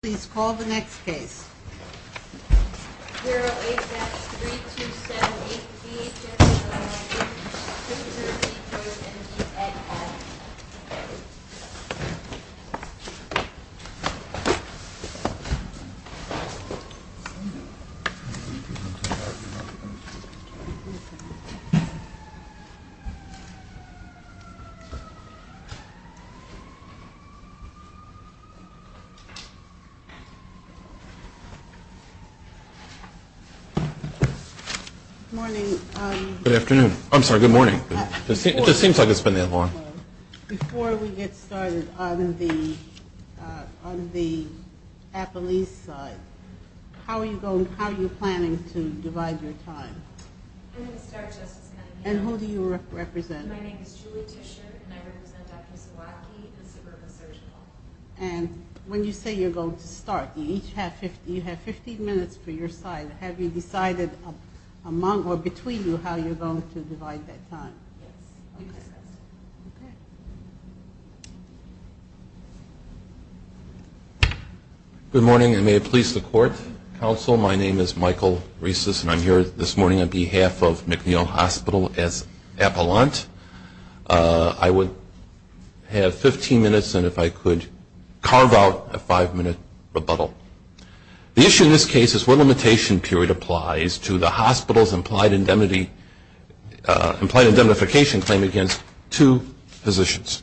Please call the next case. 0HS3278BHS of Illinois, Inc. v. Joyce, M.D. Good morning. Good afternoon. I'm sorry, good morning. It just seems like it's been that long. Before we get started, on the Appalachian side, how are you planning to divide your time? I'm going to start, Justice Kennedy. And who do you represent? My name is Julie Tischer, and I represent Dr. Zawadki, the Suburban Surgical. And when you say you're going to start, you each have 15 minutes for your side. Have you decided among or between you how you're going to divide that time? Yes. Okay. Okay. Good morning, and may it please the Court, Counsel. My name is Michael Rieses, and I'm here this morning on behalf of McNeil Hospital as appellant. I would have 15 minutes, and if I could carve out a five-minute rebuttal. The issue in this case is what limitation period applies to the hospital's implied indemnity implied indemnification claim against two physicians.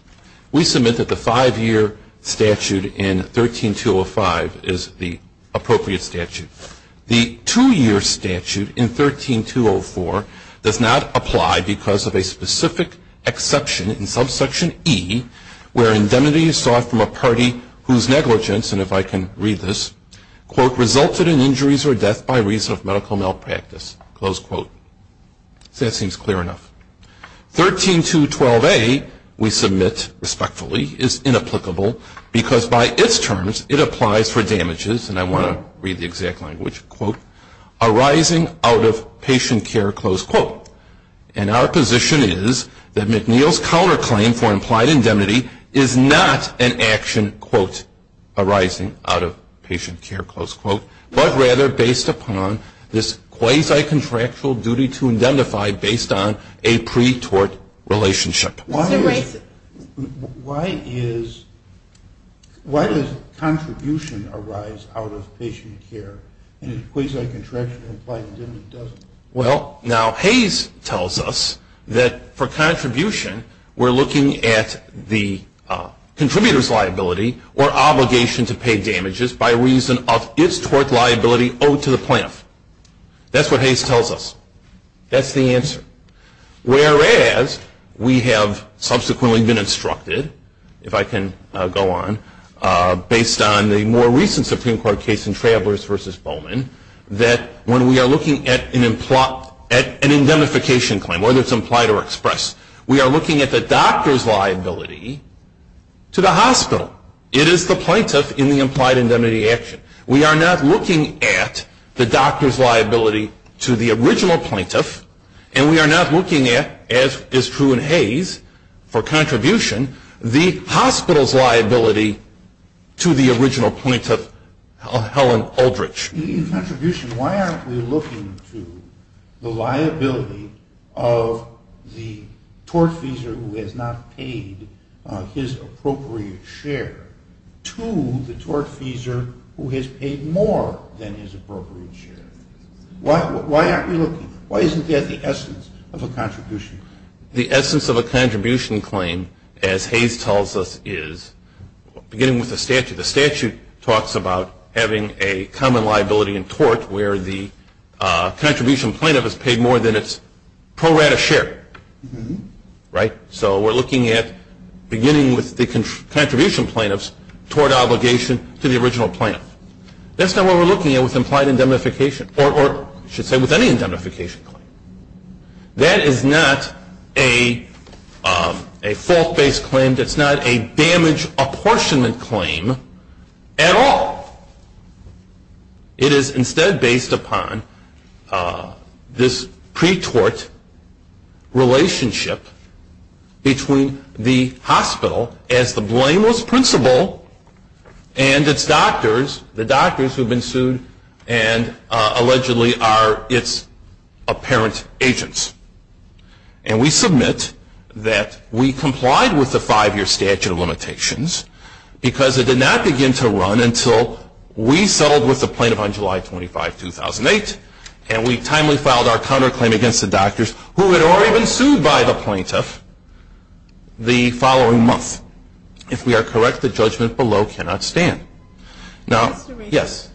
We submit that the five-year statute in 13-205 is the appropriate statute. The two-year statute in 13-204 does not apply because of a specific exception in subsection E, where indemnity is sought from a party whose negligence, and if I can read this, quote, resulted in injuries or death by reason of medical malpractice, close quote. That seems clear enough. 13-212A we submit respectfully is inapplicable because by its terms it applies for damages, and I want to read the exact language, quote, arising out of patient care, close quote. And our position is that McNeil's counterclaim for implied indemnity is not an action, quote, arising out of patient care, close quote, but rather based upon this quasi-contractual duty to indemnify based on a pre-tort relationship. Why does contribution arise out of patient care in a quasi-contractual implied indemnity? Well, now Hayes tells us that for contribution we're looking at the contributor's liability or obligation to pay damages by reason of its tort liability owed to the plaintiff. That's what Hayes tells us. That's the answer. Whereas we have subsequently been instructed, if I can go on, based on the more recent Supreme Court case in Travelers v. Bowman, that when we are looking at an indemnification claim, whether it's implied or expressed, we are looking at the doctor's liability to the hospital. It is the plaintiff in the implied indemnity action. We are not looking at the doctor's liability to the original plaintiff, and we are not looking at, as is true in Hayes for contribution, the hospital's liability to the original plaintiff, Helen Aldrich. In contribution, why aren't we looking to the liability of the tortfeasor who has not paid his appropriate share to the tortfeasor who has paid more than his appropriate share? Why aren't we looking? Why isn't that the essence of a contribution? The essence of a contribution claim, as Hayes tells us, is, beginning with the statute, the statute talks about having a common liability in tort where the contribution plaintiff has paid more than its pro rata share, right? So we are looking at beginning with the contribution plaintiffs toward obligation to the original plaintiff. That's not what we are looking at with implied indemnification, or I should say with any indemnification claim. That is not a fault-based claim. That's not a damage apportionment claim at all. It is instead based upon this pre-tort relationship between the hospital as the blameless principal and its doctors, the doctors who have been sued and allegedly are its apparent agents. And we submit that we complied with the five-year statute of limitations because it did not begin to run until we settled with the plaintiff on July 25, 2008, and we timely filed our counterclaim against the doctors who had already been sued by the plaintiff the following month. If we are correct, the judgment below cannot stand. Now, yes.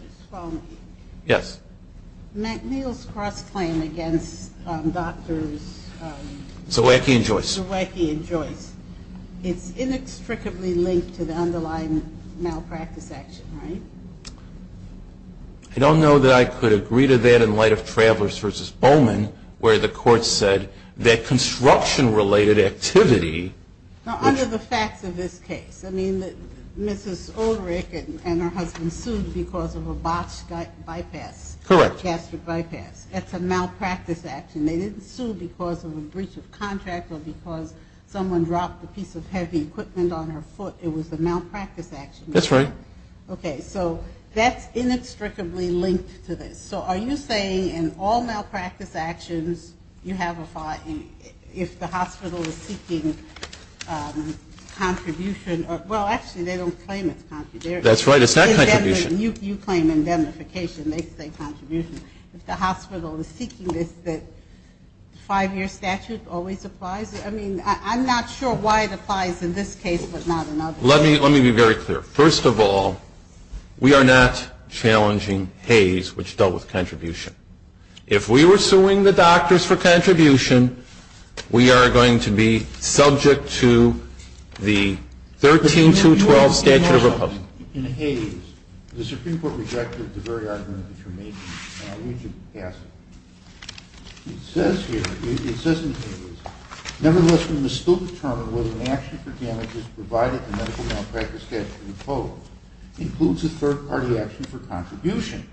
Yes. McNeil's cross-claim against doctors. Zawacki and Joyce. Zawacki and Joyce. It's inextricably linked to the underlying malpractice action, right? I don't know that I could agree to that in light of Travelers v. Bowman, where the court said that construction-related activity. Now, under the facts of this case, I mean, Mrs. Ulrich and her husband sued because of a botched bypass. Correct. Gastric bypass. That's a malpractice action. They didn't sue because of a breach of contract or because someone dropped a piece of heavy equipment on her foot. It was a malpractice action. That's right. Okay. So that's inextricably linked to this. So are you saying in all malpractice actions you have a fine if the hospital is seeking contribution? Well, actually, they don't claim it's contribution. That's right. It's not contribution. You claim indemnification. They say contribution. If the hospital is seeking this, the five-year statute always applies? I mean, I'm not sure why it applies in this case but not in others. Let me be very clear. First of all, we are not challenging Hays, which dealt with contribution. If we were suing the doctors for contribution, we are going to be subject to the 13212 statute of opposition. In Hays, the Supreme Court rejected the very argument that you're making, and I need you to pass it. It says here, it says in Hays, Nevertheless, we must still determine whether an action for damages provided in the medical malpractice statute in the code includes a third-party action for contribution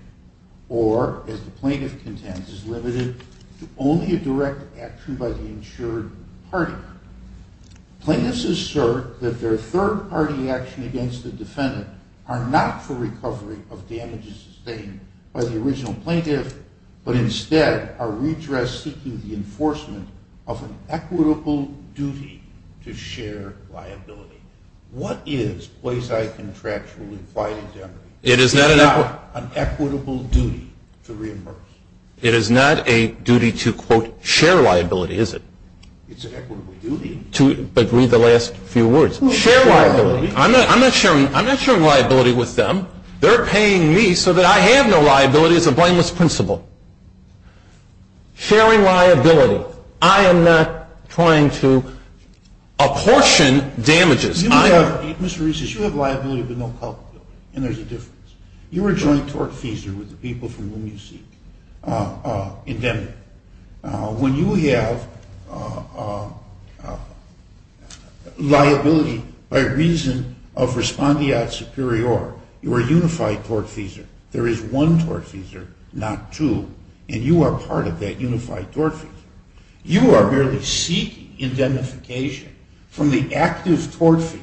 or, as the plaintiff contends, is limited to only a direct action by the insured party. Plaintiffs assert that their third-party action against the defendant are not for recovery of damages sustained by the original plaintiff but instead are redressed seeking the enforcement of an equitable duty to share liability. What is quasi-contractual implied indemnity? It is not an equitable duty to reimburse. It is not a duty to, quote, share liability, is it? It's an equitable duty. But read the last few words. Share liability. I'm not sharing liability with them. They're paying me so that I have no liability. It's a blameless principle. Sharing liability. I am not trying to apportion damages. Mr. Reese, you have liability but no culpability, and there's a difference. You're a joint tortfeasor with the people from whom you seek indemnity. When you have liability by reason of respondeat superior, you are a unified tortfeasor. There is one tortfeasor, not two, and you are part of that unified tortfeasor. You are merely seeking indemnification from the active tortfeasor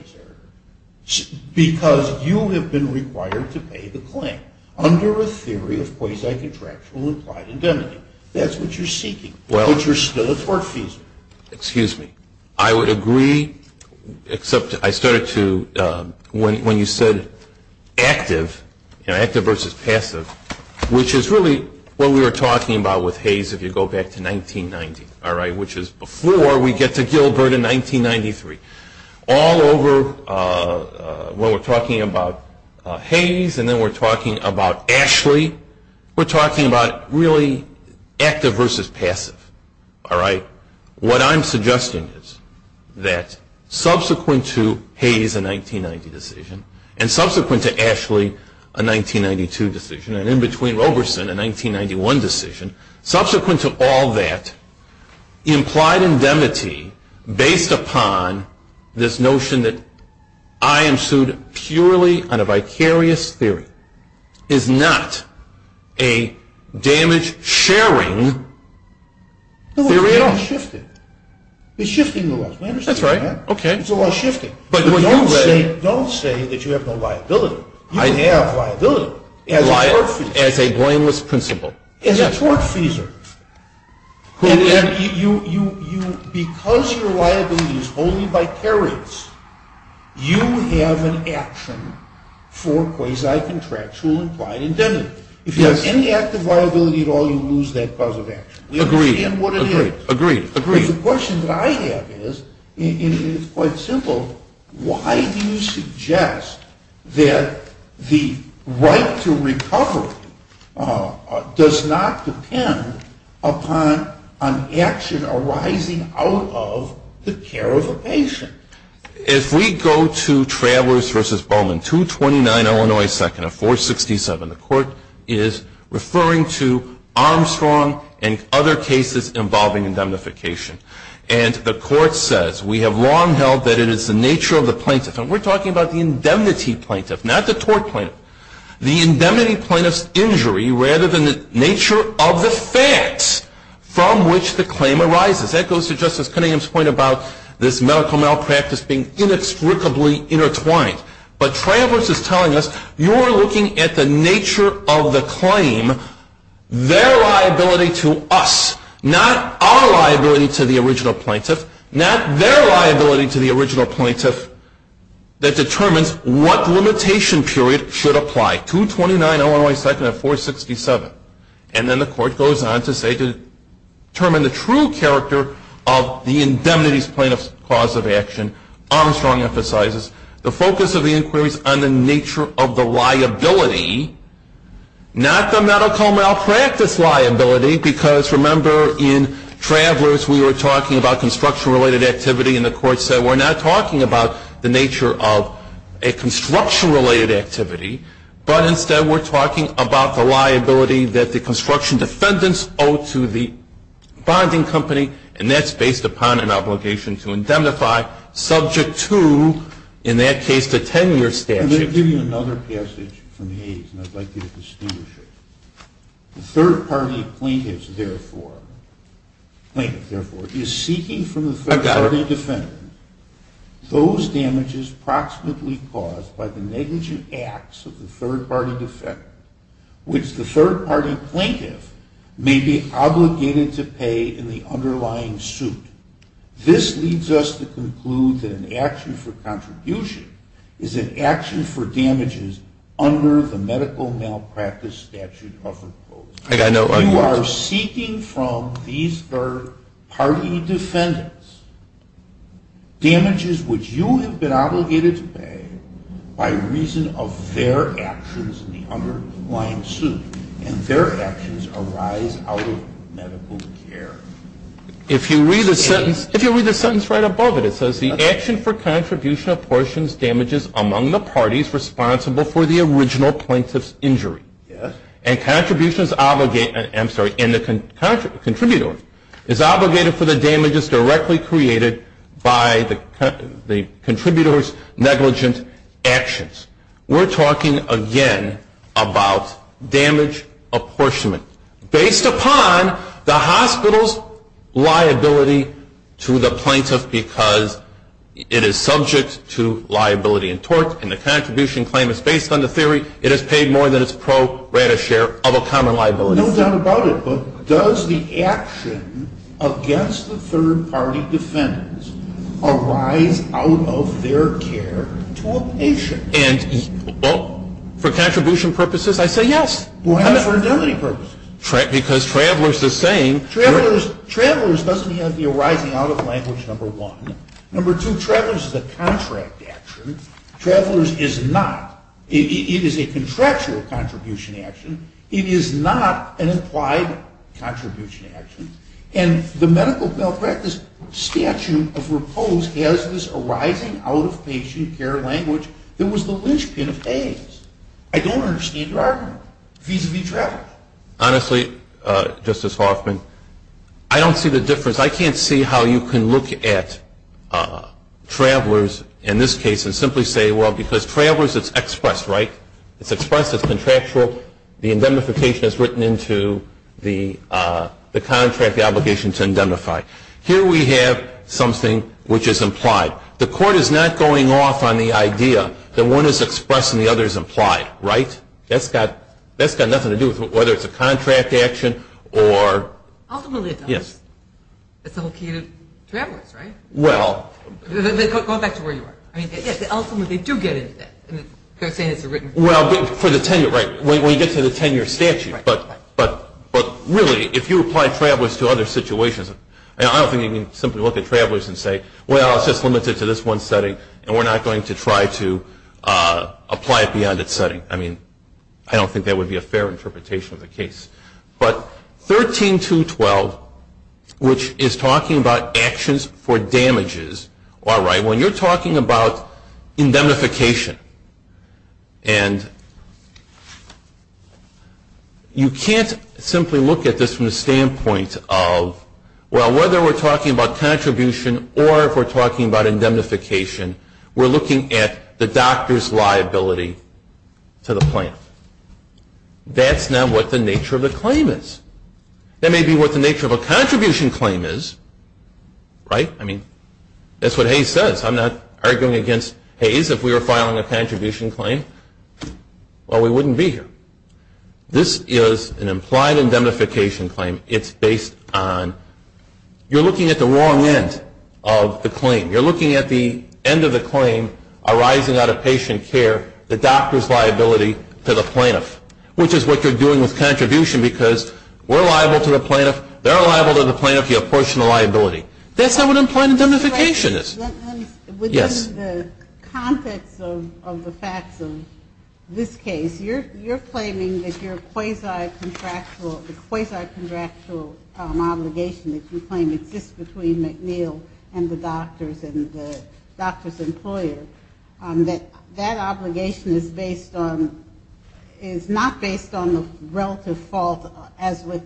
because you have been required to pay the claim under a theory of quasi-contractual implied indemnity. That's what you're seeking, but you're still a tortfeasor. Excuse me. I would agree, except I started to, when you said active, you know, active versus passive, which is really what we were talking about with Hayes if you go back to 1990, all right, which is before we get to Gilbert in 1993. All over, when we're talking about Hayes and then we're talking about Ashley, we're talking about really active versus passive, all right. What I'm suggesting is that subsequent to Hayes, a 1990 decision, and subsequent to Ashley, a 1992 decision, and in between Roberson, a 1991 decision, subsequent to all that, implied indemnity based upon this notion that I am sued purely on a vicarious theory is not a damage-sharing theory at all. It's shifting a lot. That's right. It's a lot shifting. Don't say that you have no liability. You have liability as a tortfeasor. As a blameless principal. As a tortfeasor. Because your liability is only vicarious, you have an action for quasi-contractual implied indemnity. If you have any active liability at all, you lose that cause of action. We understand what it is. Agreed. Agreed. Agreed. The question that I have is, and it's quite simple, why do you suggest that the right to recovery does not depend upon an action arising out of the care of a patient? If we go to Travelers v. Bowman, 229 Illinois 2nd of 467, the court is referring to Armstrong and other cases involving indemnification. And the court says, we have long held that it is the nature of the plaintiff, and we're talking about the indemnity plaintiff, not the tort plaintiff, the indemnity plaintiff's injury rather than the nature of the facts from which the claim arises. That goes to Justice Cunningham's point about this medical malpractice being inextricably intertwined. But Travelers is telling us, you're looking at the nature of the claim, their liability to us, not our liability to the original plaintiff, not their liability to the original plaintiff that determines what limitation period should apply. 229 Illinois 2nd of 467. And then the court goes on to say, determine the true character of the indemnity plaintiff's cause of action. Armstrong emphasizes the focus of the inquiries on the nature of the liability, not the medical malpractice liability, because remember in Travelers we were talking about construction-related activity, and the court said we're not talking about the nature of a construction-related activity, but instead we're talking about the liability that the construction defendants owe to the bonding company, and that's based upon an obligation to indemnify subject to, in that case, the 10-year statute. Let me give you another passage from Hayes, and I'd like you to distinguish it. The third-party plaintiff, therefore, is seeking from the third-party defendant those damages proximately caused by the negligent acts of the third-party defendant, which the third-party plaintiff may be obligated to pay in the underlying suit. This leads us to conclude that an action for contribution is an action for damages under the medical malpractice statute of repose. You are seeking from these third-party defendants damages which you have been obligated to pay by reason of their actions in the underlying suit, and their actions arise out of medical care. If you read the sentence right above it, it says, the action for contribution apportions damages among the parties responsible for the original plaintiff's injury, and the contributor is obligated for the damages directly created by the contributor's negligent actions. We're talking, again, about damage apportionment based upon the hospital's liability to the plaintiff because it is subject to liability and tort, and the contribution claim is based on the theory it is paid more than its pro rata share of a common liability. No doubt about it, but does the action against the third-party defendants arise out of their care to a patient? And, well, for contribution purposes, I say yes. Why not for indemnity purposes? Because Travelers is saying Travelers doesn't have the arising out of language, number one. Number two, Travelers is a contract action. Travelers is not. It is a contractual contribution action. It is not an implied contribution action. And the medical malpractice statute of repose has this arising out of patient care language that was the linchpin of Hayes. I don't understand your argument vis-a-vis Travelers. Honestly, Justice Hoffman, I don't see the difference. I can't see how you can look at Travelers in this case and simply say, well, because Travelers is expressed, right? It's expressed, it's contractual. The indemnification is written into the contract, the obligation to indemnify. Here we have something which is implied. The Court is not going off on the idea that one is expressed and the other is implied, right? That's got nothing to do with whether it's a contract action or — Ultimately, it does. Yes. It's the whole key to Travelers, right? Well — Go back to where you were. They're saying it's a written — Well, for the tenure, right. When you get to the tenure statute, but really, if you apply Travelers to other situations, I don't think you can simply look at Travelers and say, well, it's just limited to this one setting, and we're not going to try to apply it beyond its setting. I mean, I don't think that would be a fair interpretation of the case. But 13212, which is talking about actions for damages, all right, when you're talking about indemnification, and you can't simply look at this from the standpoint of, well, whether we're talking about contribution or if we're talking about indemnification, we're looking at the doctor's liability to the plaintiff. That's not what the nature of the claim is. That may be what the nature of a contribution claim is, right? I mean, that's what Hayes says. I'm not arguing against Hayes if we were filing a contribution claim. Well, we wouldn't be here. This is an implied indemnification claim. It's based on — you're looking at the wrong end of the claim. You're looking at the end of the claim arising out of patient care, the doctor's liability to the plaintiff, which is what you're doing with contribution because we're liable to the plaintiff, they're liable to the plaintiff, you have partial liability. That's not what implied indemnification is. Within the context of the facts of this case, you're claiming that your quasi-contractual obligation that you claim exists between McNeil and the doctor's employer, that that obligation is based on — is not based on the relative fault as with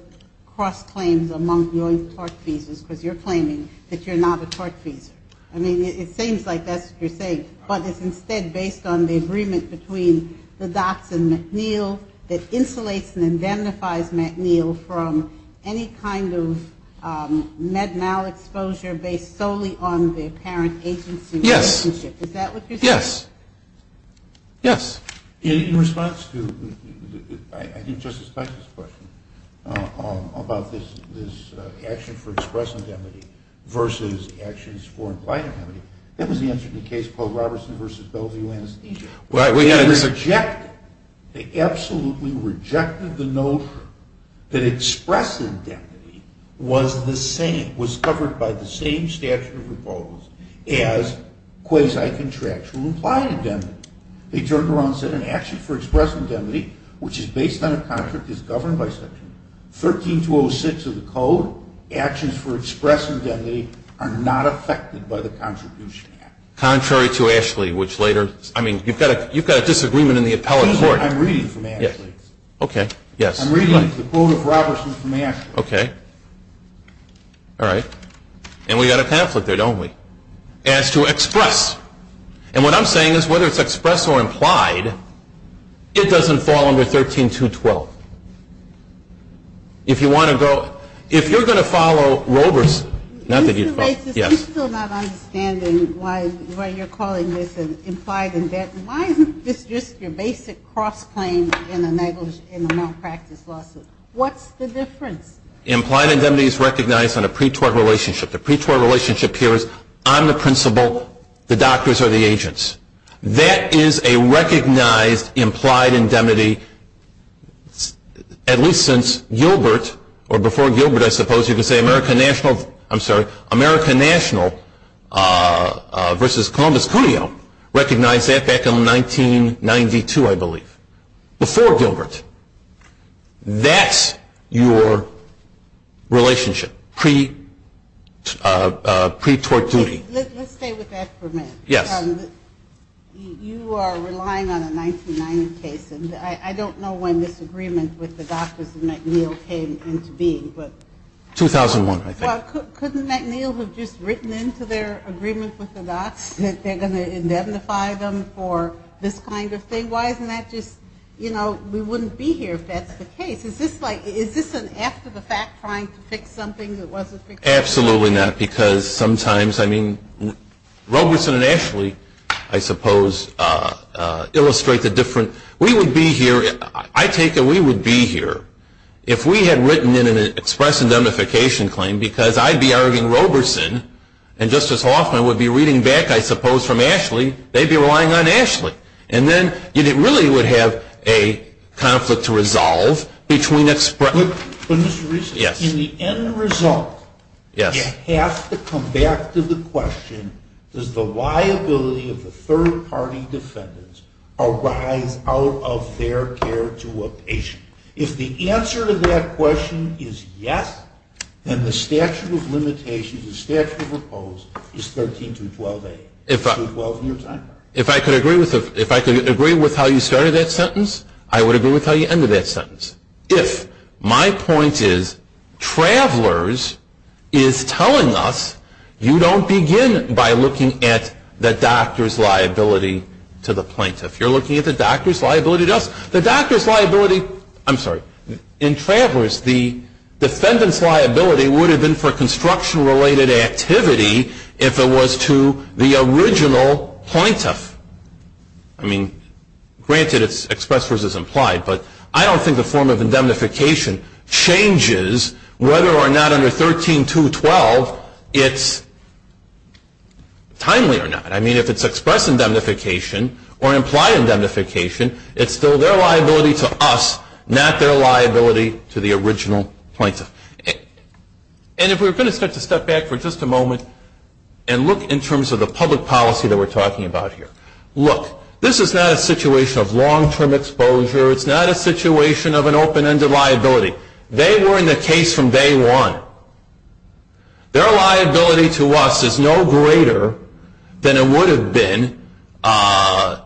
cross-claims among joint tort cases because you're claiming that you're not a tort fees. I mean, it seems like that's what you're saying, but it's instead based on the agreement between the docs and McNeil that insulates and indemnifies McNeil from any kind of med mal exposure based solely on the parent agency relationship. Yes. Is that what you're saying? Yes. Yes. In response to, I think, Justice Stein's question about this action for express indemnity versus actions for implied indemnity, that was the answer to the case called Robertson v. Bell v. Lannister. Right. We had a — They absolutely rejected the notion that express indemnity was the same, as quasi-contractual implied indemnity. They turned around and said an action for express indemnity, which is based on a contract that's governed by Section 13206 of the Code, actions for express indemnity are not affected by the Contribution Act. Contrary to Ashley, which later — I mean, you've got a disagreement in the appellate court. I'm reading from Ashley's. Okay. Yes. I'm reading the quote of Robertson from Ashley's. Okay. All right. And we've got a conflict there, don't we, as to express. And what I'm saying is whether it's express or implied, it doesn't fall under 13212. If you want to go — if you're going to follow Robertson — Mr. Bates, I'm still not understanding why you're calling this an implied indemnity. Why isn't this just your basic cross-claim in a malpractice lawsuit? What's the difference? Implied indemnity is recognized on a pre-tort relationship. The pre-tort relationship here is I'm the principal, the doctors are the agents. That is a recognized implied indemnity at least since Gilbert, or before Gilbert, I suppose. You can say American National — I'm sorry, American National versus Columbus Cuneo recognized that back in 1992, I believe, before Gilbert. That's your relationship, pre-tort duty. Let's stay with that for a minute. Yes. You are relying on a 1990 case, and I don't know when this agreement with the doctors and McNeil came into being, but — 2001, I think. Well, couldn't McNeil have just written into their agreement with the docs that they're going to indemnify them for this kind of thing? I mean, why isn't that just — you know, we wouldn't be here if that's the case. Is this like — is this an after-the-fact trying to fix something that wasn't fixed? Absolutely not, because sometimes — I mean, Roberson and Ashley, I suppose, illustrate the different — we would be here — I take it we would be here if we had written in an express indemnification claim, because I'd be arguing Roberson, and Justice Hoffman would be reading back, I suppose, from Ashley. They'd be relying on Ashley. And then you really would have a conflict to resolve between express — But, Mr. Reese, in the end result, you have to come back to the question, does the liability of the third-party defendants arise out of their care to a patient? If the answer to that question is yes, then the statute of limitations, the statute of oppose, is 13-12-8. If I could agree with how you started that sentence, I would agree with how you ended that sentence. If my point is, Travelers is telling us you don't begin by looking at the doctor's liability to the plaintiff. You're looking at the doctor's liability to us. The doctor's liability — I'm sorry. In Travelers, the defendant's liability would have been for construction-related activity if it was to the original plaintiff. I mean, granted it's express versus implied, but I don't think the form of indemnification changes whether or not under 13-2-12 it's timely or not. I mean, if it's express indemnification or implied indemnification, it's still their liability to us, not their liability to the original plaintiff. And if we're going to start to step back for just a moment and look in terms of the public policy that we're talking about here, look, this is not a situation of long-term exposure. It's not a situation of an open-ended liability. They were in the case from day one. Their liability to us is no greater than it would have been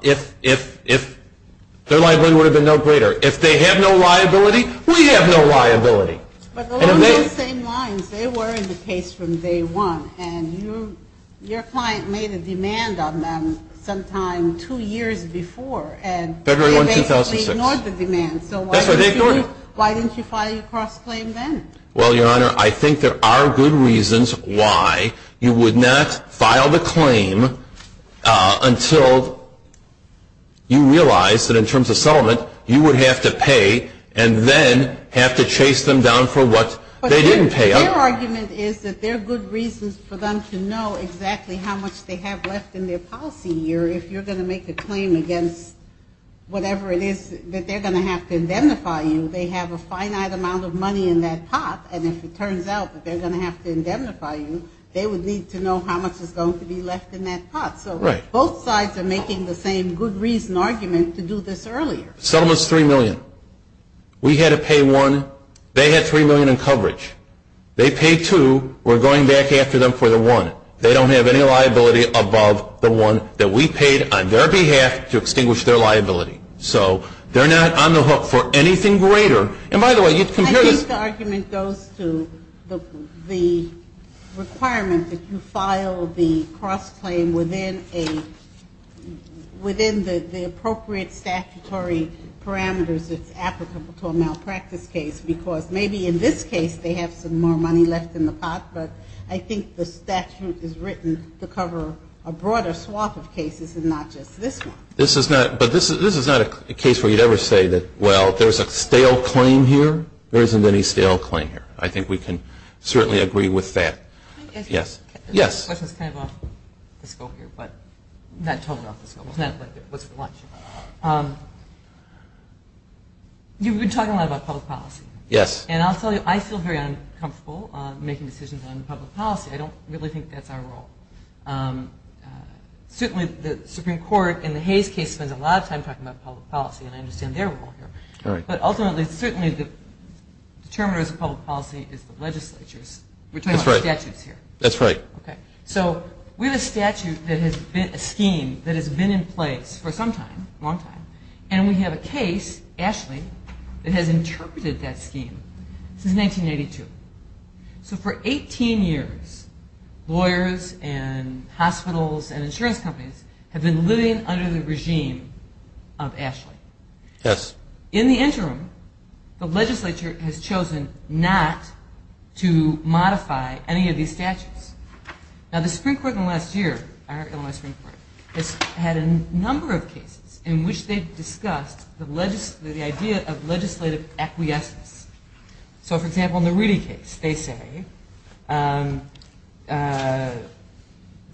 if — their liability would have been no greater. If they have no liability, we have no liability. But along those same lines, they were in the case from day one, and your client made a demand on them sometime two years before, and — February 1, 2006. — they basically ignored the demand. That's right, they ignored it. So why didn't you file your cross-claim then? Well, Your Honor, I think there are good reasons why you would not file the claim until you realize that in terms of settlement, you would have to pay and then have to chase them down for what they didn't pay up. But their argument is that there are good reasons for them to know exactly how much they have left in their policy year. If you're going to make a claim against whatever it is that they're going to have to indemnify you, they have a finite amount of money in that pot. And if it turns out that they're going to have to indemnify you, they would need to know how much is going to be left in that pot. So both sides are making the same good reason argument to do this earlier. Settlement's $3 million. We had to pay $1. They had $3 million in coverage. They paid $2. We're going back after them for the $1. They don't have any liability above the $1 that we paid on their behalf to extinguish their liability. So they're not on the hook for anything greater. And, by the way, you can hear this — it's applicable to a malpractice case because maybe in this case they have some more money left in the pot, but I think the statute is written to cover a broader swath of cases and not just this one. This is not — but this is not a case where you'd ever say that, well, there's a stale claim here. There isn't any stale claim here. I think we can certainly agree with that. Yes. Yes. My question is kind of off the scope here, but not totally off the scope. It's not like it was for lunch. You've been talking a lot about public policy. Yes. And I'll tell you, I feel very uncomfortable making decisions on public policy. I don't really think that's our role. Certainly the Supreme Court in the Hayes case spends a lot of time talking about public policy, and I understand their role here. But ultimately, certainly the determiners of public policy is the legislatures. That's right. We're talking about statutes here. That's right. Okay. So we have a statute that has been a scheme that has been in place for some time, a long time, and we have a case, Ashley, that has interpreted that scheme since 1982. So for 18 years, lawyers and hospitals and insurance companies have been living under the regime of Ashley. Yes. In the interim, the legislature has chosen not to modify any of these statutes. Now, the Supreme Court in the last year, Illinois Supreme Court, has had a number of cases in which they've discussed the idea of legislative acquiescence. So, for example, in the Rudy case, they say the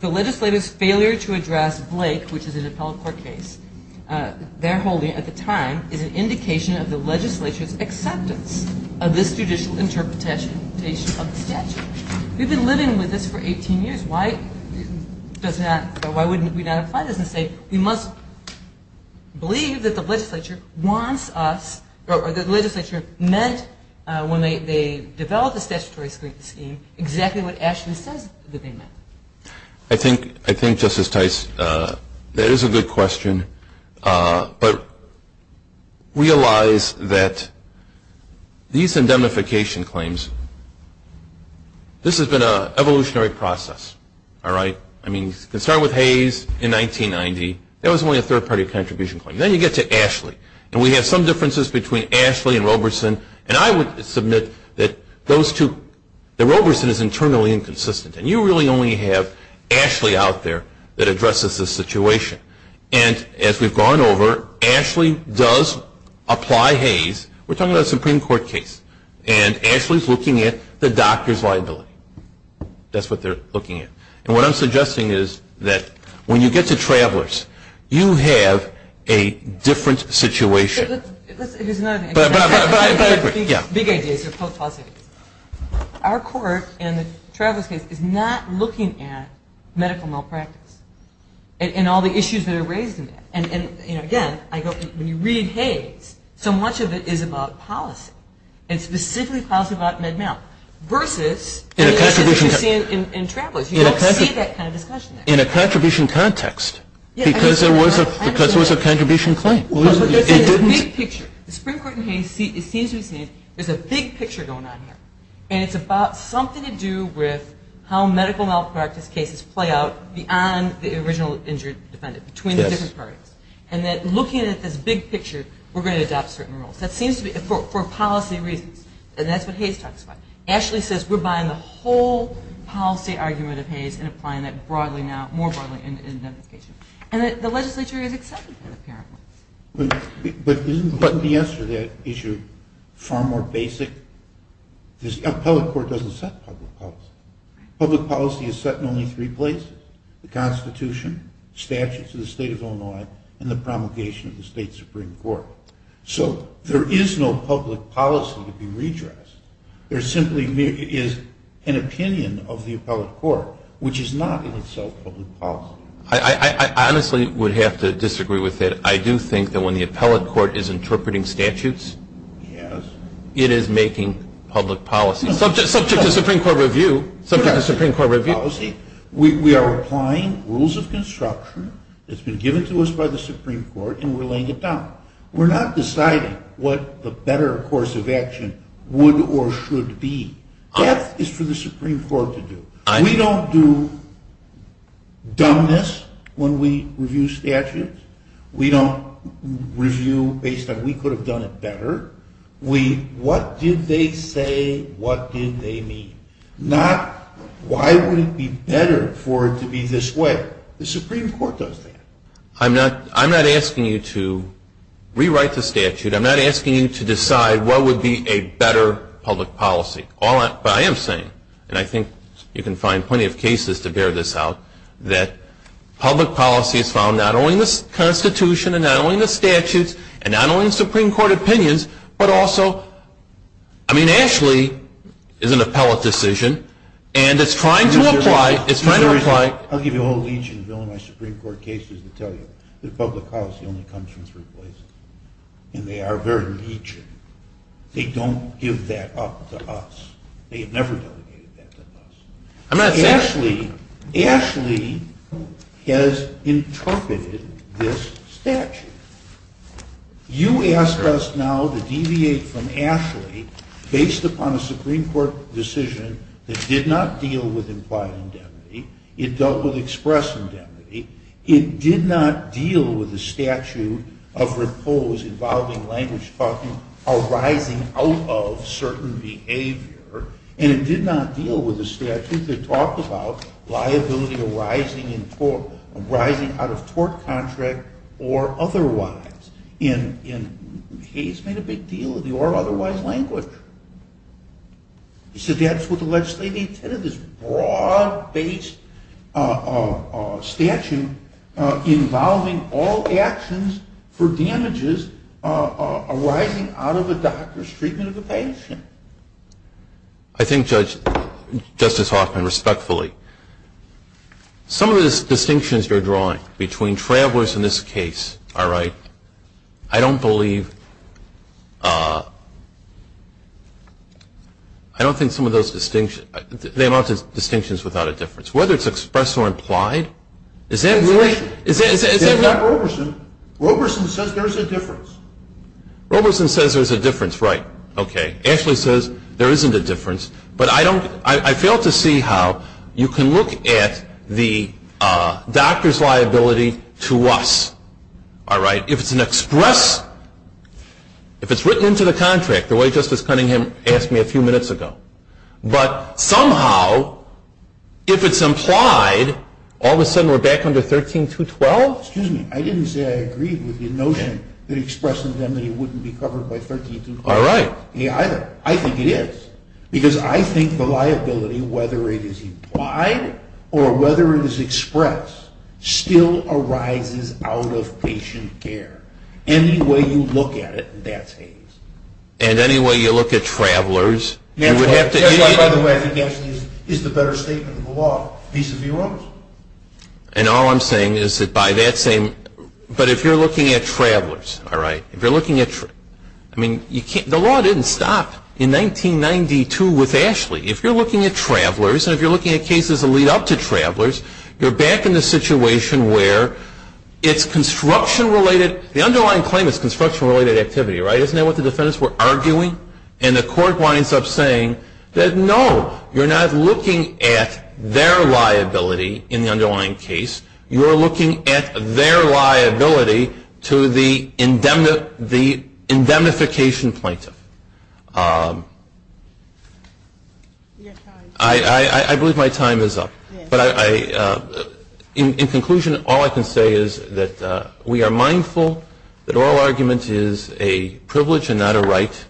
legislator's failure to address Blake, which is an appellate court case, their holding at the time is an indication of the legislature's acceptance of this judicial interpretation of the statute. We've been living with this for 18 years. Why would we not apply this and say we must believe that the legislature wants us or the legislature meant when they developed the statutory scheme exactly what Ashley says that they meant. I think, Justice Tice, that is a good question. But realize that these indemnification claims, this has been an evolutionary process. All right? I mean, you can start with Hayes in 1990. That was only a third-party contribution claim. Then you get to Ashley. And we have some differences between Ashley and Roberson. And I would submit that those two, that Roberson is internally inconsistent and you really only have Ashley out there that addresses this situation. And as we've gone over, Ashley does apply Hayes. We're talking about a Supreme Court case. And Ashley's looking at the doctor's liability. That's what they're looking at. And what I'm suggesting is that when you get to Travelers, you have a different situation. But I agree. Big ideas. Our court in the Travelers case is not looking at medical malpractice and all the issues that are raised in that. And, again, when you read Hayes, so much of it is about policy and specifically policy about Med-Mal versus the issues that you see in Travelers. You don't see that kind of discussion there. In a contribution context because it was a contribution claim. It's a big picture. The Supreme Court in Hayes seems to be saying there's a big picture going on here. And it's about something to do with how medical malpractice cases play out beyond the original injured defendant, between the different parties. And that looking at this big picture, we're going to adopt certain rules. That seems to be for policy reasons. And that's what Hayes talks about. Ashley says we're buying the whole policy argument of Hayes and applying that more broadly in identification. And the legislature is accepting that apparently. But isn't the answer to that issue far more basic? The appellate court doesn't set public policy. Public policy is set in only three places. The Constitution, statutes of the State of Illinois, and the promulgation of the State Supreme Court. So there is no public policy to be redressed. There simply is an opinion of the appellate court, which is not in itself public policy. I honestly would have to disagree with it. I do think that when the appellate court is interpreting statutes, it is making public policy. Subject to Supreme Court review. Subject to Supreme Court review. We are applying rules of construction. It's been given to us by the Supreme Court, and we're laying it down. We're not deciding what the better course of action would or should be. That is for the Supreme Court to do. We don't do dumbness when we review statutes. We don't review based on we could have done it better. What did they say? What did they mean? Not why would it be better for it to be this way. The Supreme Court does that. I'm not asking you to rewrite the statute. I'm not asking you to decide what would be a better public policy. But I am saying, and I think you can find plenty of cases to bear this out, that public policy is found not only in the Constitution and not only in the statutes and not only in Supreme Court opinions, but also, I mean, Ashley is an appellate decision, and it's trying to apply. I'll give you a whole legion of Illinois Supreme Court cases that tell you that public policy only comes from three places. And they are very legion. They don't give that up to us. They have never delegated that to us. Ashley has interpreted this statute. You ask us now to deviate from Ashley based upon a Supreme Court decision that did not deal with implied indemnity. It dealt with express indemnity. It did not deal with the statute of repose involving language arising out of certain behavior. And it did not deal with the statute that talked about liability arising out of tort contract or otherwise. And Hayes made a big deal of the or otherwise language. He said that's what the legislature intended, this broad-based statute involving all actions for damages arising out of a doctor's treatment of a patient. I think, Justice Hoffman, respectfully, some of the distinctions you're drawing between travelers in this case, are right. I don't believe, I don't think some of those distinctions, they amount to distinctions without a difference. Whether it's expressed or implied, is that really? It's not Roberson. Roberson says there's a difference. Roberson says there's a difference. Right. Okay. Ashley says there isn't a difference. But I don't, I fail to see how you can look at the doctor's liability to us. All right. If it's an express, if it's written into the contract, the way Justice Cunningham asked me a few minutes ago. But somehow, if it's implied, all of a sudden we're back under 13212? Excuse me. I didn't say I agreed with the notion that express indemnity wouldn't be covered by 13212. All right. Me either. I think it is. Because I think the liability, whether it is implied or whether it is expressed, still arises out of patient care. Any way you look at it, that's Hays. And any way you look at travelers, you would have to. That's why, by the way, I think Ashley is the better statement of the law, vis-a-vis Roberson. And all I'm saying is that by that same, but if you're looking at travelers, all right, if you're looking at, I mean, you can't, the law didn't stop in 1992 with Ashley. If you're looking at travelers, and if you're looking at cases that lead up to travelers, you're back in the situation where it's construction-related, the underlying claim is construction-related activity, right? Isn't that what the defendants were arguing? And the court winds up saying that, no, you're not looking at their liability in the underlying case. You're looking at their liability to the indemnification plaintiff. I believe my time is up. But in conclusion, all I can say is that we are mindful that oral argument is a privilege and not a right.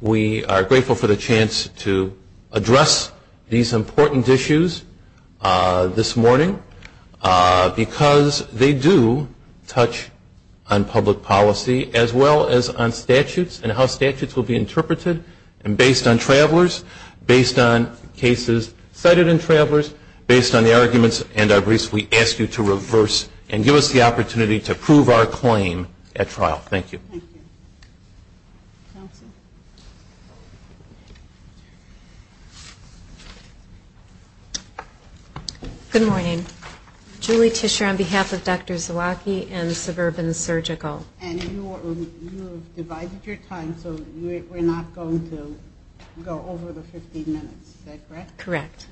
We are grateful for the chance to address these important issues this morning, because they do touch on public policy as well as on statutes and how statutes will be interpreted and based on travelers, based on cases cited in travelers, based on the arguments and our briefs, we ask you to reverse and give us the opportunity to prove our claim at trial. Thank you. Good morning. Julie Tischer on behalf of Dr. Zawacki and Suburban Surgical. And you have divided your time, so we're not going to go over the 15 minutes. Is that correct? Correct.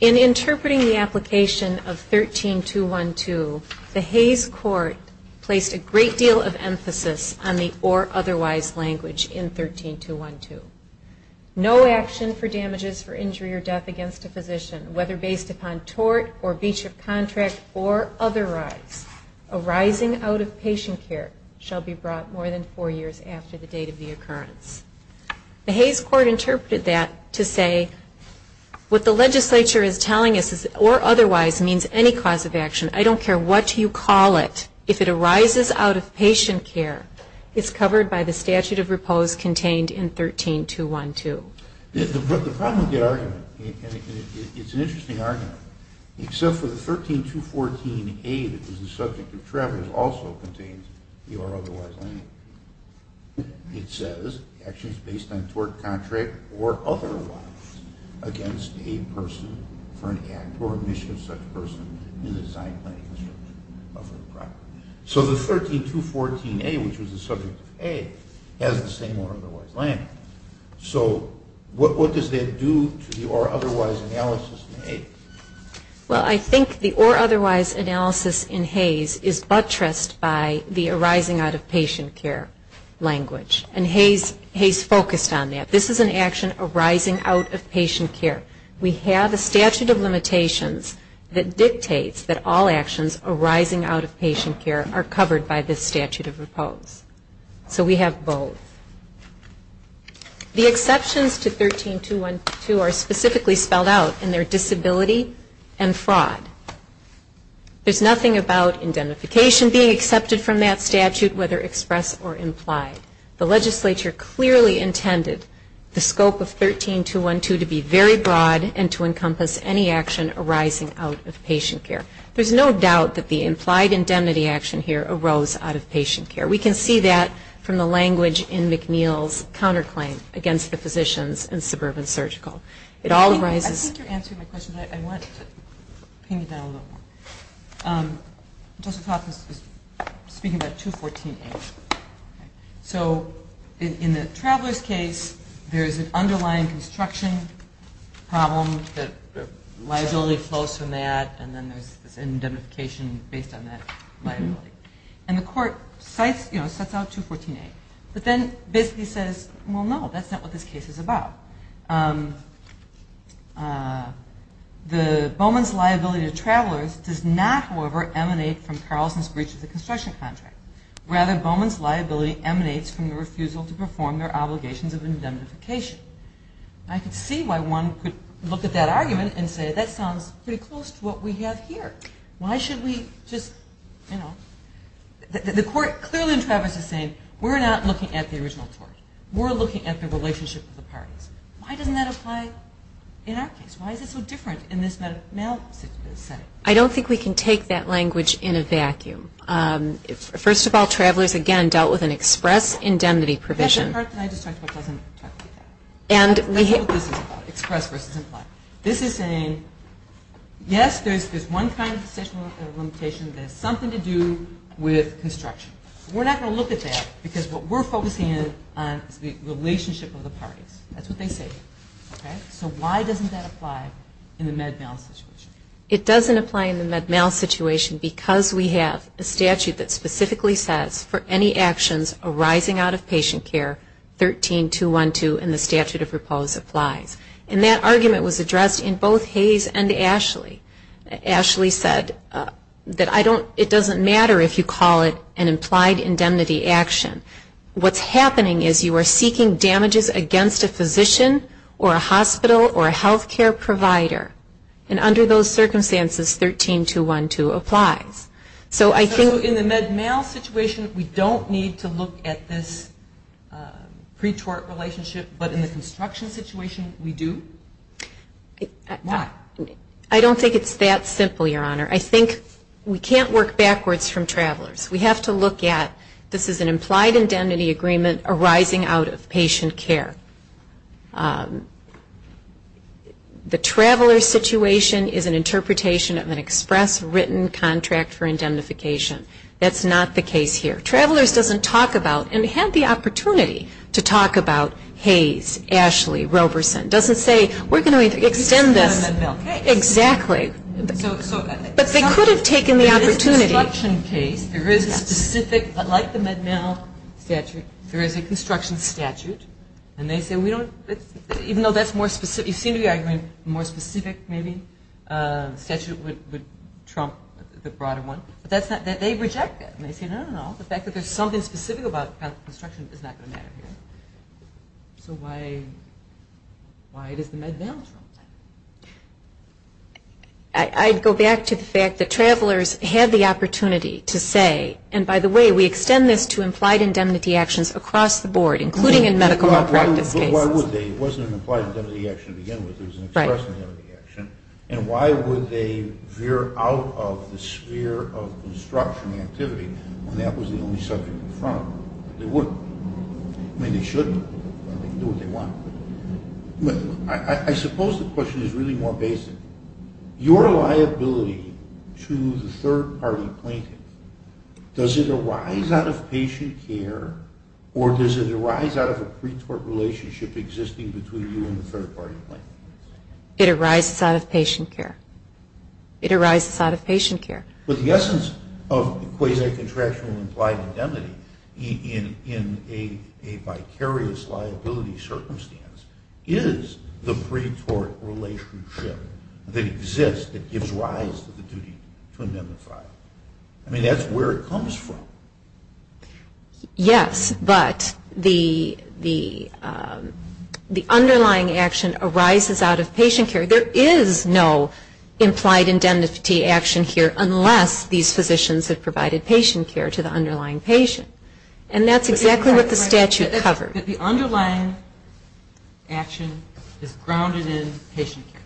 In interpreting the application of 13212, the Hays Court placed a great deal of emphasis on the or otherwise language in 13212. No action for damages for injury or death against a physician, whether based upon tort or breach of contract or otherwise, arising out of patient care, shall be brought more than four years after the date of the occurrence. The Hays Court interpreted that to say, what the legislature is telling us is that or otherwise means any cause of action. I don't care what you call it. If it arises out of patient care, it's covered by the statute of repose contained in 13212. The problem with the argument, and it's an interesting argument, except for the 13214A, which is the subject of travelers, also contains the or otherwise language. It says actions based on tort contract or otherwise against a person for an act or admission of such person in the design, planning, construction of a property. So the 13214A, which was the subject of Hays, has the same or otherwise language. So what does that do to the or otherwise analysis in Hays? Well, I think the or otherwise analysis in Hays is buttressed by the arising out of patient care language. And Hays focused on that. This is an action arising out of patient care. We have a statute of limitations that dictates that all actions arising out of patient care are covered by this statute of repose. So we have both. The exceptions to 13212 are specifically spelled out in their disability and fraud. There's nothing about indemnification being accepted from that statute, whether expressed or implied. The legislature clearly intended the scope of 13212 to be very broad and to encompass any action arising out of patient care. There's no doubt that the implied indemnity action here arose out of patient care. We can see that from the language in McNeil's counterclaim against the physicians and suburban surgical. It all arises. I think you're answering my question. I wanted to pin you down a little more. Joseph Hopkins is speaking about 214A. So in the traveler's case, there's an underlying construction problem that liability flows from that, and then there's this indemnification based on that liability. And the court sets out 214A, but then basically says, well, no, that's not what this case is about. Bowman's liability to travelers does not, however, emanate from Carlson's breach of the construction contract. Rather, Bowman's liability emanates from the refusal to perform their obligations of indemnification. I could see why one could look at that argument and say, that sounds pretty close to what we have here. Why should we just, you know, the court clearly in Travers is saying, we're not looking at the original tort. We're looking at the relationship of the parties. Why doesn't that apply in our case? Why is it so different in this male setting? I don't think we can take that language in a vacuum. First of all, travelers, again, dealt with an express indemnity provision. That's the part that I just talked about doesn't apply. That's not what this is about, express versus implied. This is saying, yes, there's one kind of sexual limitation that has something to do with construction. We're not going to look at that because what we're focusing on is the relationship of the parties. That's what they say. Okay? So why doesn't that apply in the Med-MAL situation? It doesn't apply in the Med-MAL situation because we have a statute that specifically says for any actions arising out of patient care, 13.212 in the statute of repose applies. And that argument was addressed in both Hayes and Ashley. Ashley said that it doesn't matter if you call it an implied indemnity action. What's happening is you are seeking damages against a physician or a hospital or a health care provider. And under those circumstances, 13.212 applies. So I think in the Med-MAL situation, we don't need to look at this pretort relationship. But in the construction situation, we do. Why? I don't think it's that simple, Your Honor. I think we can't work backwards from Travelers. We have to look at this is an implied indemnity agreement arising out of patient care. The Travelers situation is an interpretation of an express written contract for indemnification. That's not the case here. Travelers doesn't talk about, and had the opportunity to talk about Hayes, Ashley, Roberson. Doesn't say we're going to extend this. Exactly. But they could have taken the opportunity. There is a construction case. There is a specific, like the Med-MAL statute, there is a construction statute. And they say we don't, even though that's more specific, you seem to be arguing a more specific maybe statute would trump the broader one. They reject that. They say, no, no, no. The fact that there is something specific about construction is not going to matter here. So why does the Med-MAL trump that? I'd go back to the fact that Travelers had the opportunity to say, and by the way, we extend this to implied indemnity actions across the board, including in medical malpractice cases. Why would they? It wasn't an implied indemnity action to begin with. It was an express indemnity action. And why would they veer out of the sphere of construction activity when that was the only subject in front of them? They wouldn't. I mean, they should, but they can do what they want. I suppose the question is really more basic. Your liability to the third-party plaintiff, does it arise out of patient care or does it arise out of a pre-tort relationship existing between you and the third-party plaintiff? It arises out of patient care. It arises out of patient care. But the essence of quasi-contractual implied indemnity in a vicarious liability circumstance is the pre-tort relationship that exists that gives rise to the duty to indemnify. I mean, that's where it comes from. Yes, but the underlying action arises out of patient care. There is no implied indemnity action here unless these physicians have provided patient care to the underlying patient. And that's exactly what the statute covers. But the underlying action is grounded in patient care.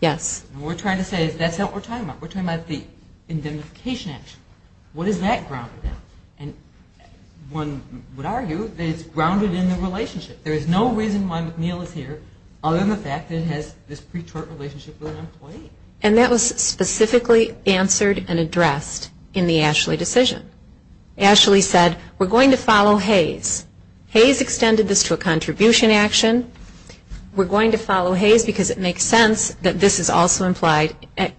Yes. And we're trying to say that's what we're talking about. We're talking about the indemnification action. What is that grounded in? And one would argue that it's grounded in the relationship. There is no reason why McNeil is here other than the fact that it has this pre-tort relationship with an employee. And that was specifically answered and addressed in the Ashley decision. Ashley said, we're going to follow Hayes. Hayes extended this to a contribution action. We're going to follow Hayes because it makes sense that this is also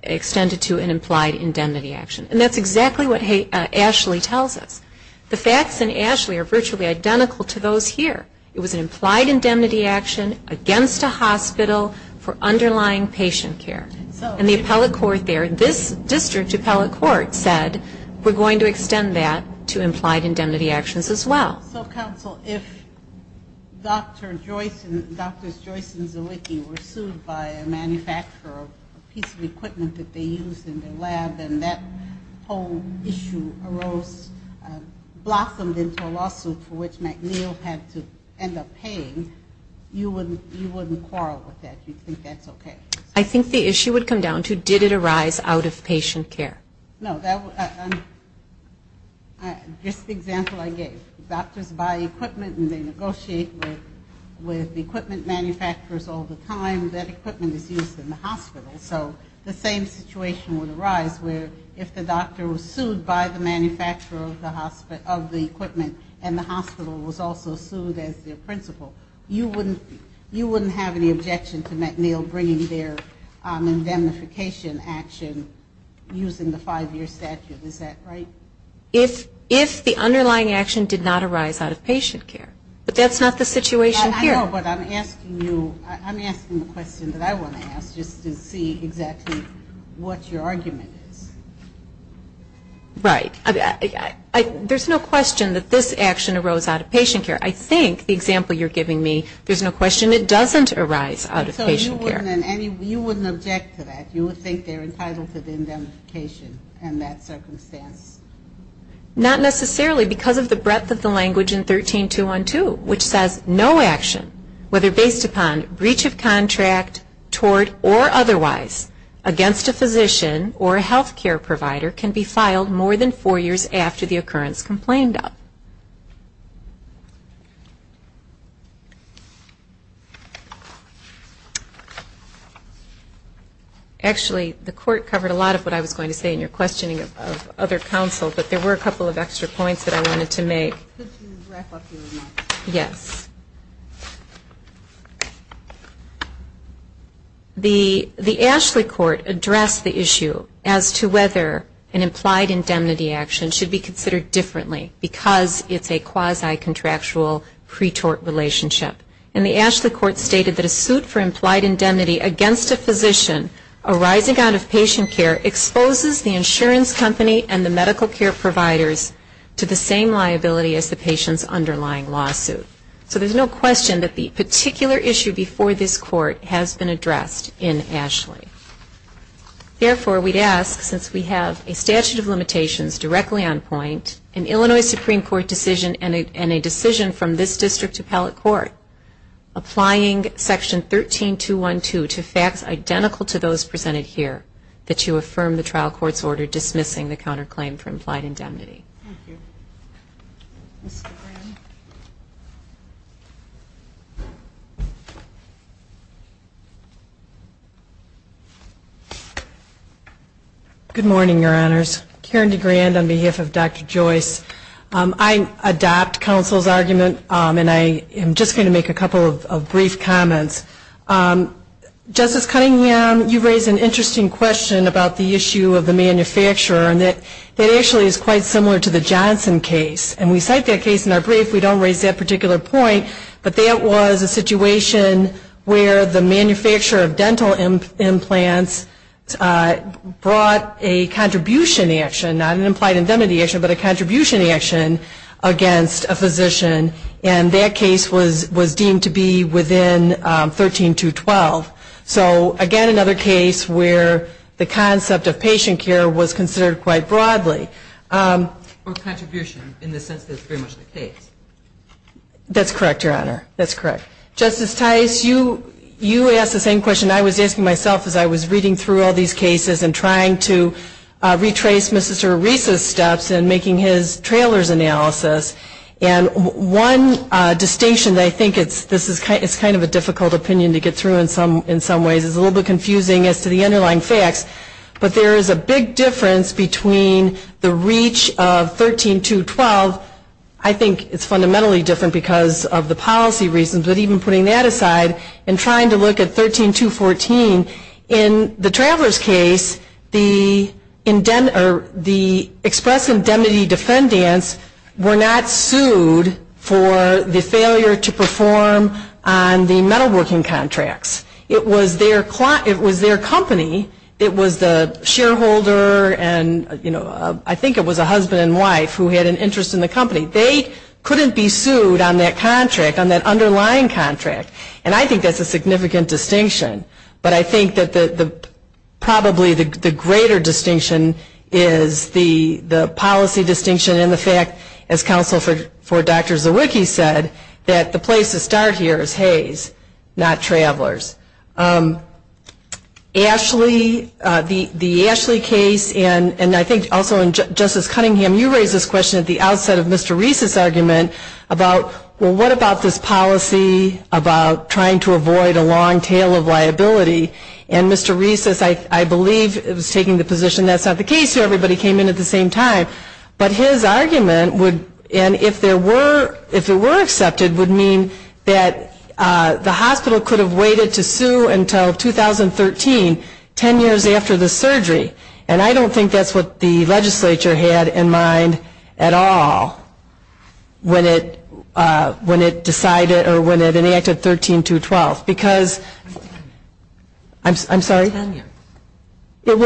extended to an implied indemnity action. And that's exactly what Ashley tells us. The facts in Ashley are virtually identical to those here. It was an implied indemnity action against a hospital for underlying patient care. And the appellate court there, this district appellate court, said we're going to extend that to implied indemnity actions as well. So, counsel, if Drs. Joyce and Zalicki were sued by a manufacturer of a piece of equipment that they used in their lab and that whole issue arose, blossomed into a lawsuit for which McNeil had to end up paying, you wouldn't quarrel with that. You'd think that's okay. I think the issue would come down to did it arise out of patient care. No. Just the example I gave. Doctors buy equipment and they negotiate with equipment manufacturers all the time. That equipment is used in the hospital. So the same situation would arise where if the doctor was sued by the manufacturer of the equipment and the hospital was also sued as their principal, you wouldn't have any objection to McNeil bringing their indemnification action using the five-year statute. Is that right? If the underlying action did not arise out of patient care. But that's not the situation here. I know, but I'm asking you, I'm asking the question that I want to ask just to see exactly what your argument is. Right. There's no question that this action arose out of patient care. I think the example you're giving me, there's no question it doesn't arise out of patient care. So you wouldn't object to that? You would think they're entitled to the indemnification in that circumstance? Not necessarily because of the breadth of the language in 13212, which says no action, whether based upon breach of contract, tort, or otherwise, against a physician or a health care provider can be filed more than four years after the occurrence complained of. Actually, the court covered a lot of what I was going to say in your questioning of other counsel, but there were a couple of extra points that I wanted to make. Could you wrap up your remarks? Yes. The Ashley Court addressed the issue as to whether an implied indemnity action should be considered differently because it's a quasi-contractual pretort relationship. And the Ashley Court stated that a suit for implied indemnity against a patient's underlying lawsuit. So there's no question that the particular issue before this court has been addressed in Ashley. Therefore, we'd ask, since we have a statute of limitations directly on point, an Illinois Supreme Court decision and a decision from this district appellate court, applying Section 13212 to facts identical to those presented here, that you affirm the trial court's order dismissing the counterclaim for implied indemnity. Thank you. Good morning, Your Honors. Karen DeGrand on behalf of Dr. Joyce. I adopt counsel's argument, and I am just going to make a couple of brief comments. Justice Cunningham, you raised an interesting question about the issue of the manufacturer, and that actually is quite similar to the Johnson case. And we cite that case in our brief. We don't raise that particular point, but that was a situation where the manufacturer of dental implants brought a contribution action, not an implied indemnity action, but a contribution action against a physician, and that case was deemed to be within 13212. So, again, another case where the concept of patient care was considered quite broadly. Or contribution, in the sense that it's very much the case. That's correct, Your Honor. That's correct. Justice Tice, you asked the same question I was asking myself as I was reading through all these cases and trying to retrace Mr. Arisa's steps in making his trailer's analysis. And one distinction that I think is kind of a difficult opinion to get through in some ways is a little bit confusing as to the underlying facts. But there is a big difference between the reach of 13212. I think it's fundamentally different because of the policy reasons. But even putting that aside and trying to look at 13214, in the traveler's case, the express indemnity defendants were not sued for the failure to meet their contracts. It was their company that was the shareholder, and I think it was a husband and wife who had an interest in the company. They couldn't be sued on that contract, on that underlying contract. And I think that's a significant distinction. But I think that probably the greater distinction is the policy distinction and the fact, as counsel for Dr. Zawicki said, that the place to start here is Hays, not travelers. Ashley, the Ashley case, and I think also in Justice Cunningham, you raised this question at the outset of Mr. Reese's argument about, well, what about this policy about trying to avoid a long tail of liability? And Mr. Reese, I believe, was taking the position that's not the case here, but he came in at the same time. But his argument would, and if there were, if it were accepted, would mean that the hospital could have waited to sue until 2013, ten years after the surgery. And I don't think that's what the legislature had in mind at all when it decided or when it enacted 13212. Because, I'm sorry? Ten years. Ten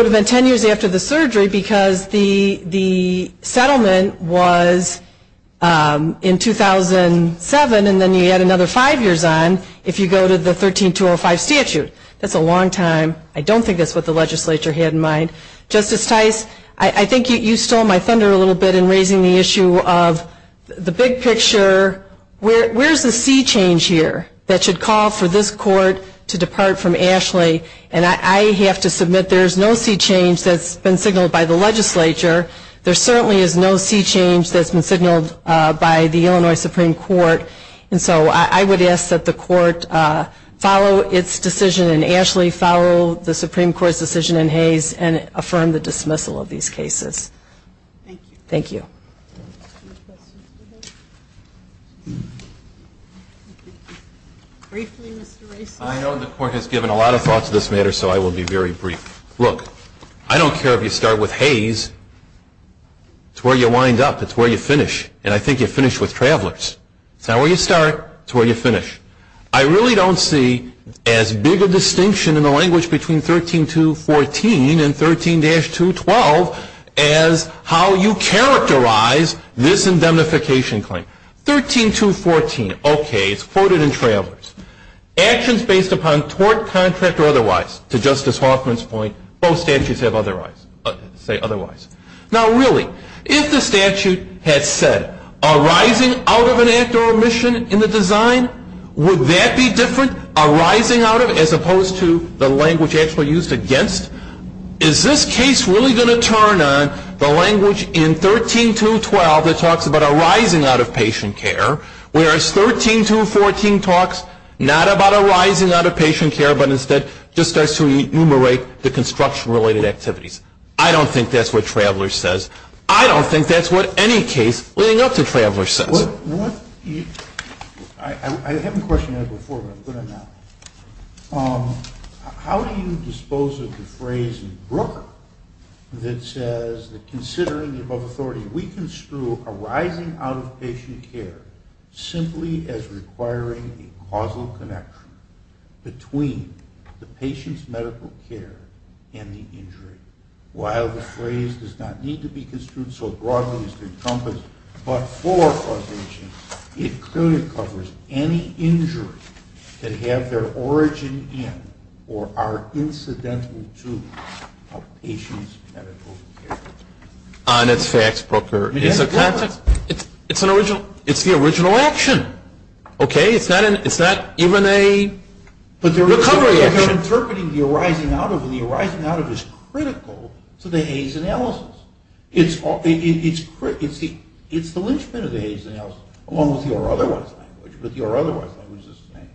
years after the surgery because the settlement was in 2007 and then you had another five years on if you go to the 13205 statute. That's a long time. I don't think that's what the legislature had in mind. Justice Tice, I think you stole my thunder a little bit in raising the issue of the big picture. Where's the sea change here that should call for this court to depart from Ashley? And I have to submit there's no sea change that's been signaled by the legislature. There certainly is no sea change that's been signaled by the Illinois Supreme Court. And so I would ask that the court follow its decision and Ashley follow the Supreme Court's decision in Hayes and affirm the dismissal of these cases. Thank you. Thank you. Any questions for this? Briefly, Mr. Reese. I know the court has given a lot of thought to this matter so I will be very brief. Look, I don't care if you start with Hayes. It's where you wind up. It's where you finish. And I think you finish with Travelers. It's not where you start. It's where you finish. I really don't see as big a distinction in the language between 13214 and 13-212 as how you characterize this indemnification claim. 13214, okay, it's quoted in Travelers. Actions based upon tort, contract, or otherwise. To Justice Hoffman's point, both statutes have otherwise. Now, really, if the statute had said arising out of an act or omission in the design, would that be different, arising out of as opposed to the language actually used against? Is this case really going to turn on the language in 13-212 that talks about arising out of patient care? Whereas 13-214 talks not about arising out of patient care but instead just starts to enumerate the construction-related activities. I don't think that's what Travelers says. I don't think that's what any case leading up to Travelers says. I haven't questioned that before, but I'm going to now. How do you dispose of the phrase in Brooke that says that considering the authority, we construe arising out of patient care simply as requiring a causal connection between the patient's medical care and the injury? While the phrase does not need to be construed so broadly as to encompass but for causation, it clearly covers any injury that have their origin in or are incidental to a patient's medical care. Honest facts, Brooker. It's the original action. Okay? It's not even a recovery action. But they're interpreting the arising out of and the arising out of is critical to the Hays analysis. It's the lynchpin of the Hays analysis along with your otherwise language. But your otherwise language is the same.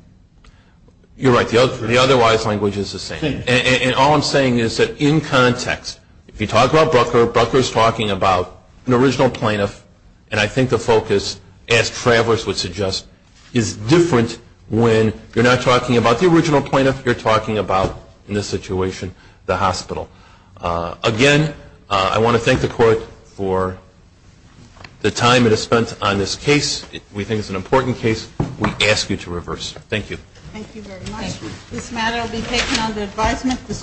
You're right. The otherwise language is the same. And all I'm saying is that in context, if you talk about Brooker, Brooker is talking about an original plaintiff, and I think the focus, as Travelers would suggest, is different when you're not talking about the original plaintiff, you're talking about, in this situation, the hospital. Again, I want to thank the Court for the time it has spent on this case. We think it's an important case. We ask you to reverse. Thank you. Thank you very much. This matter will be taken under advisement. This Court is adjourned.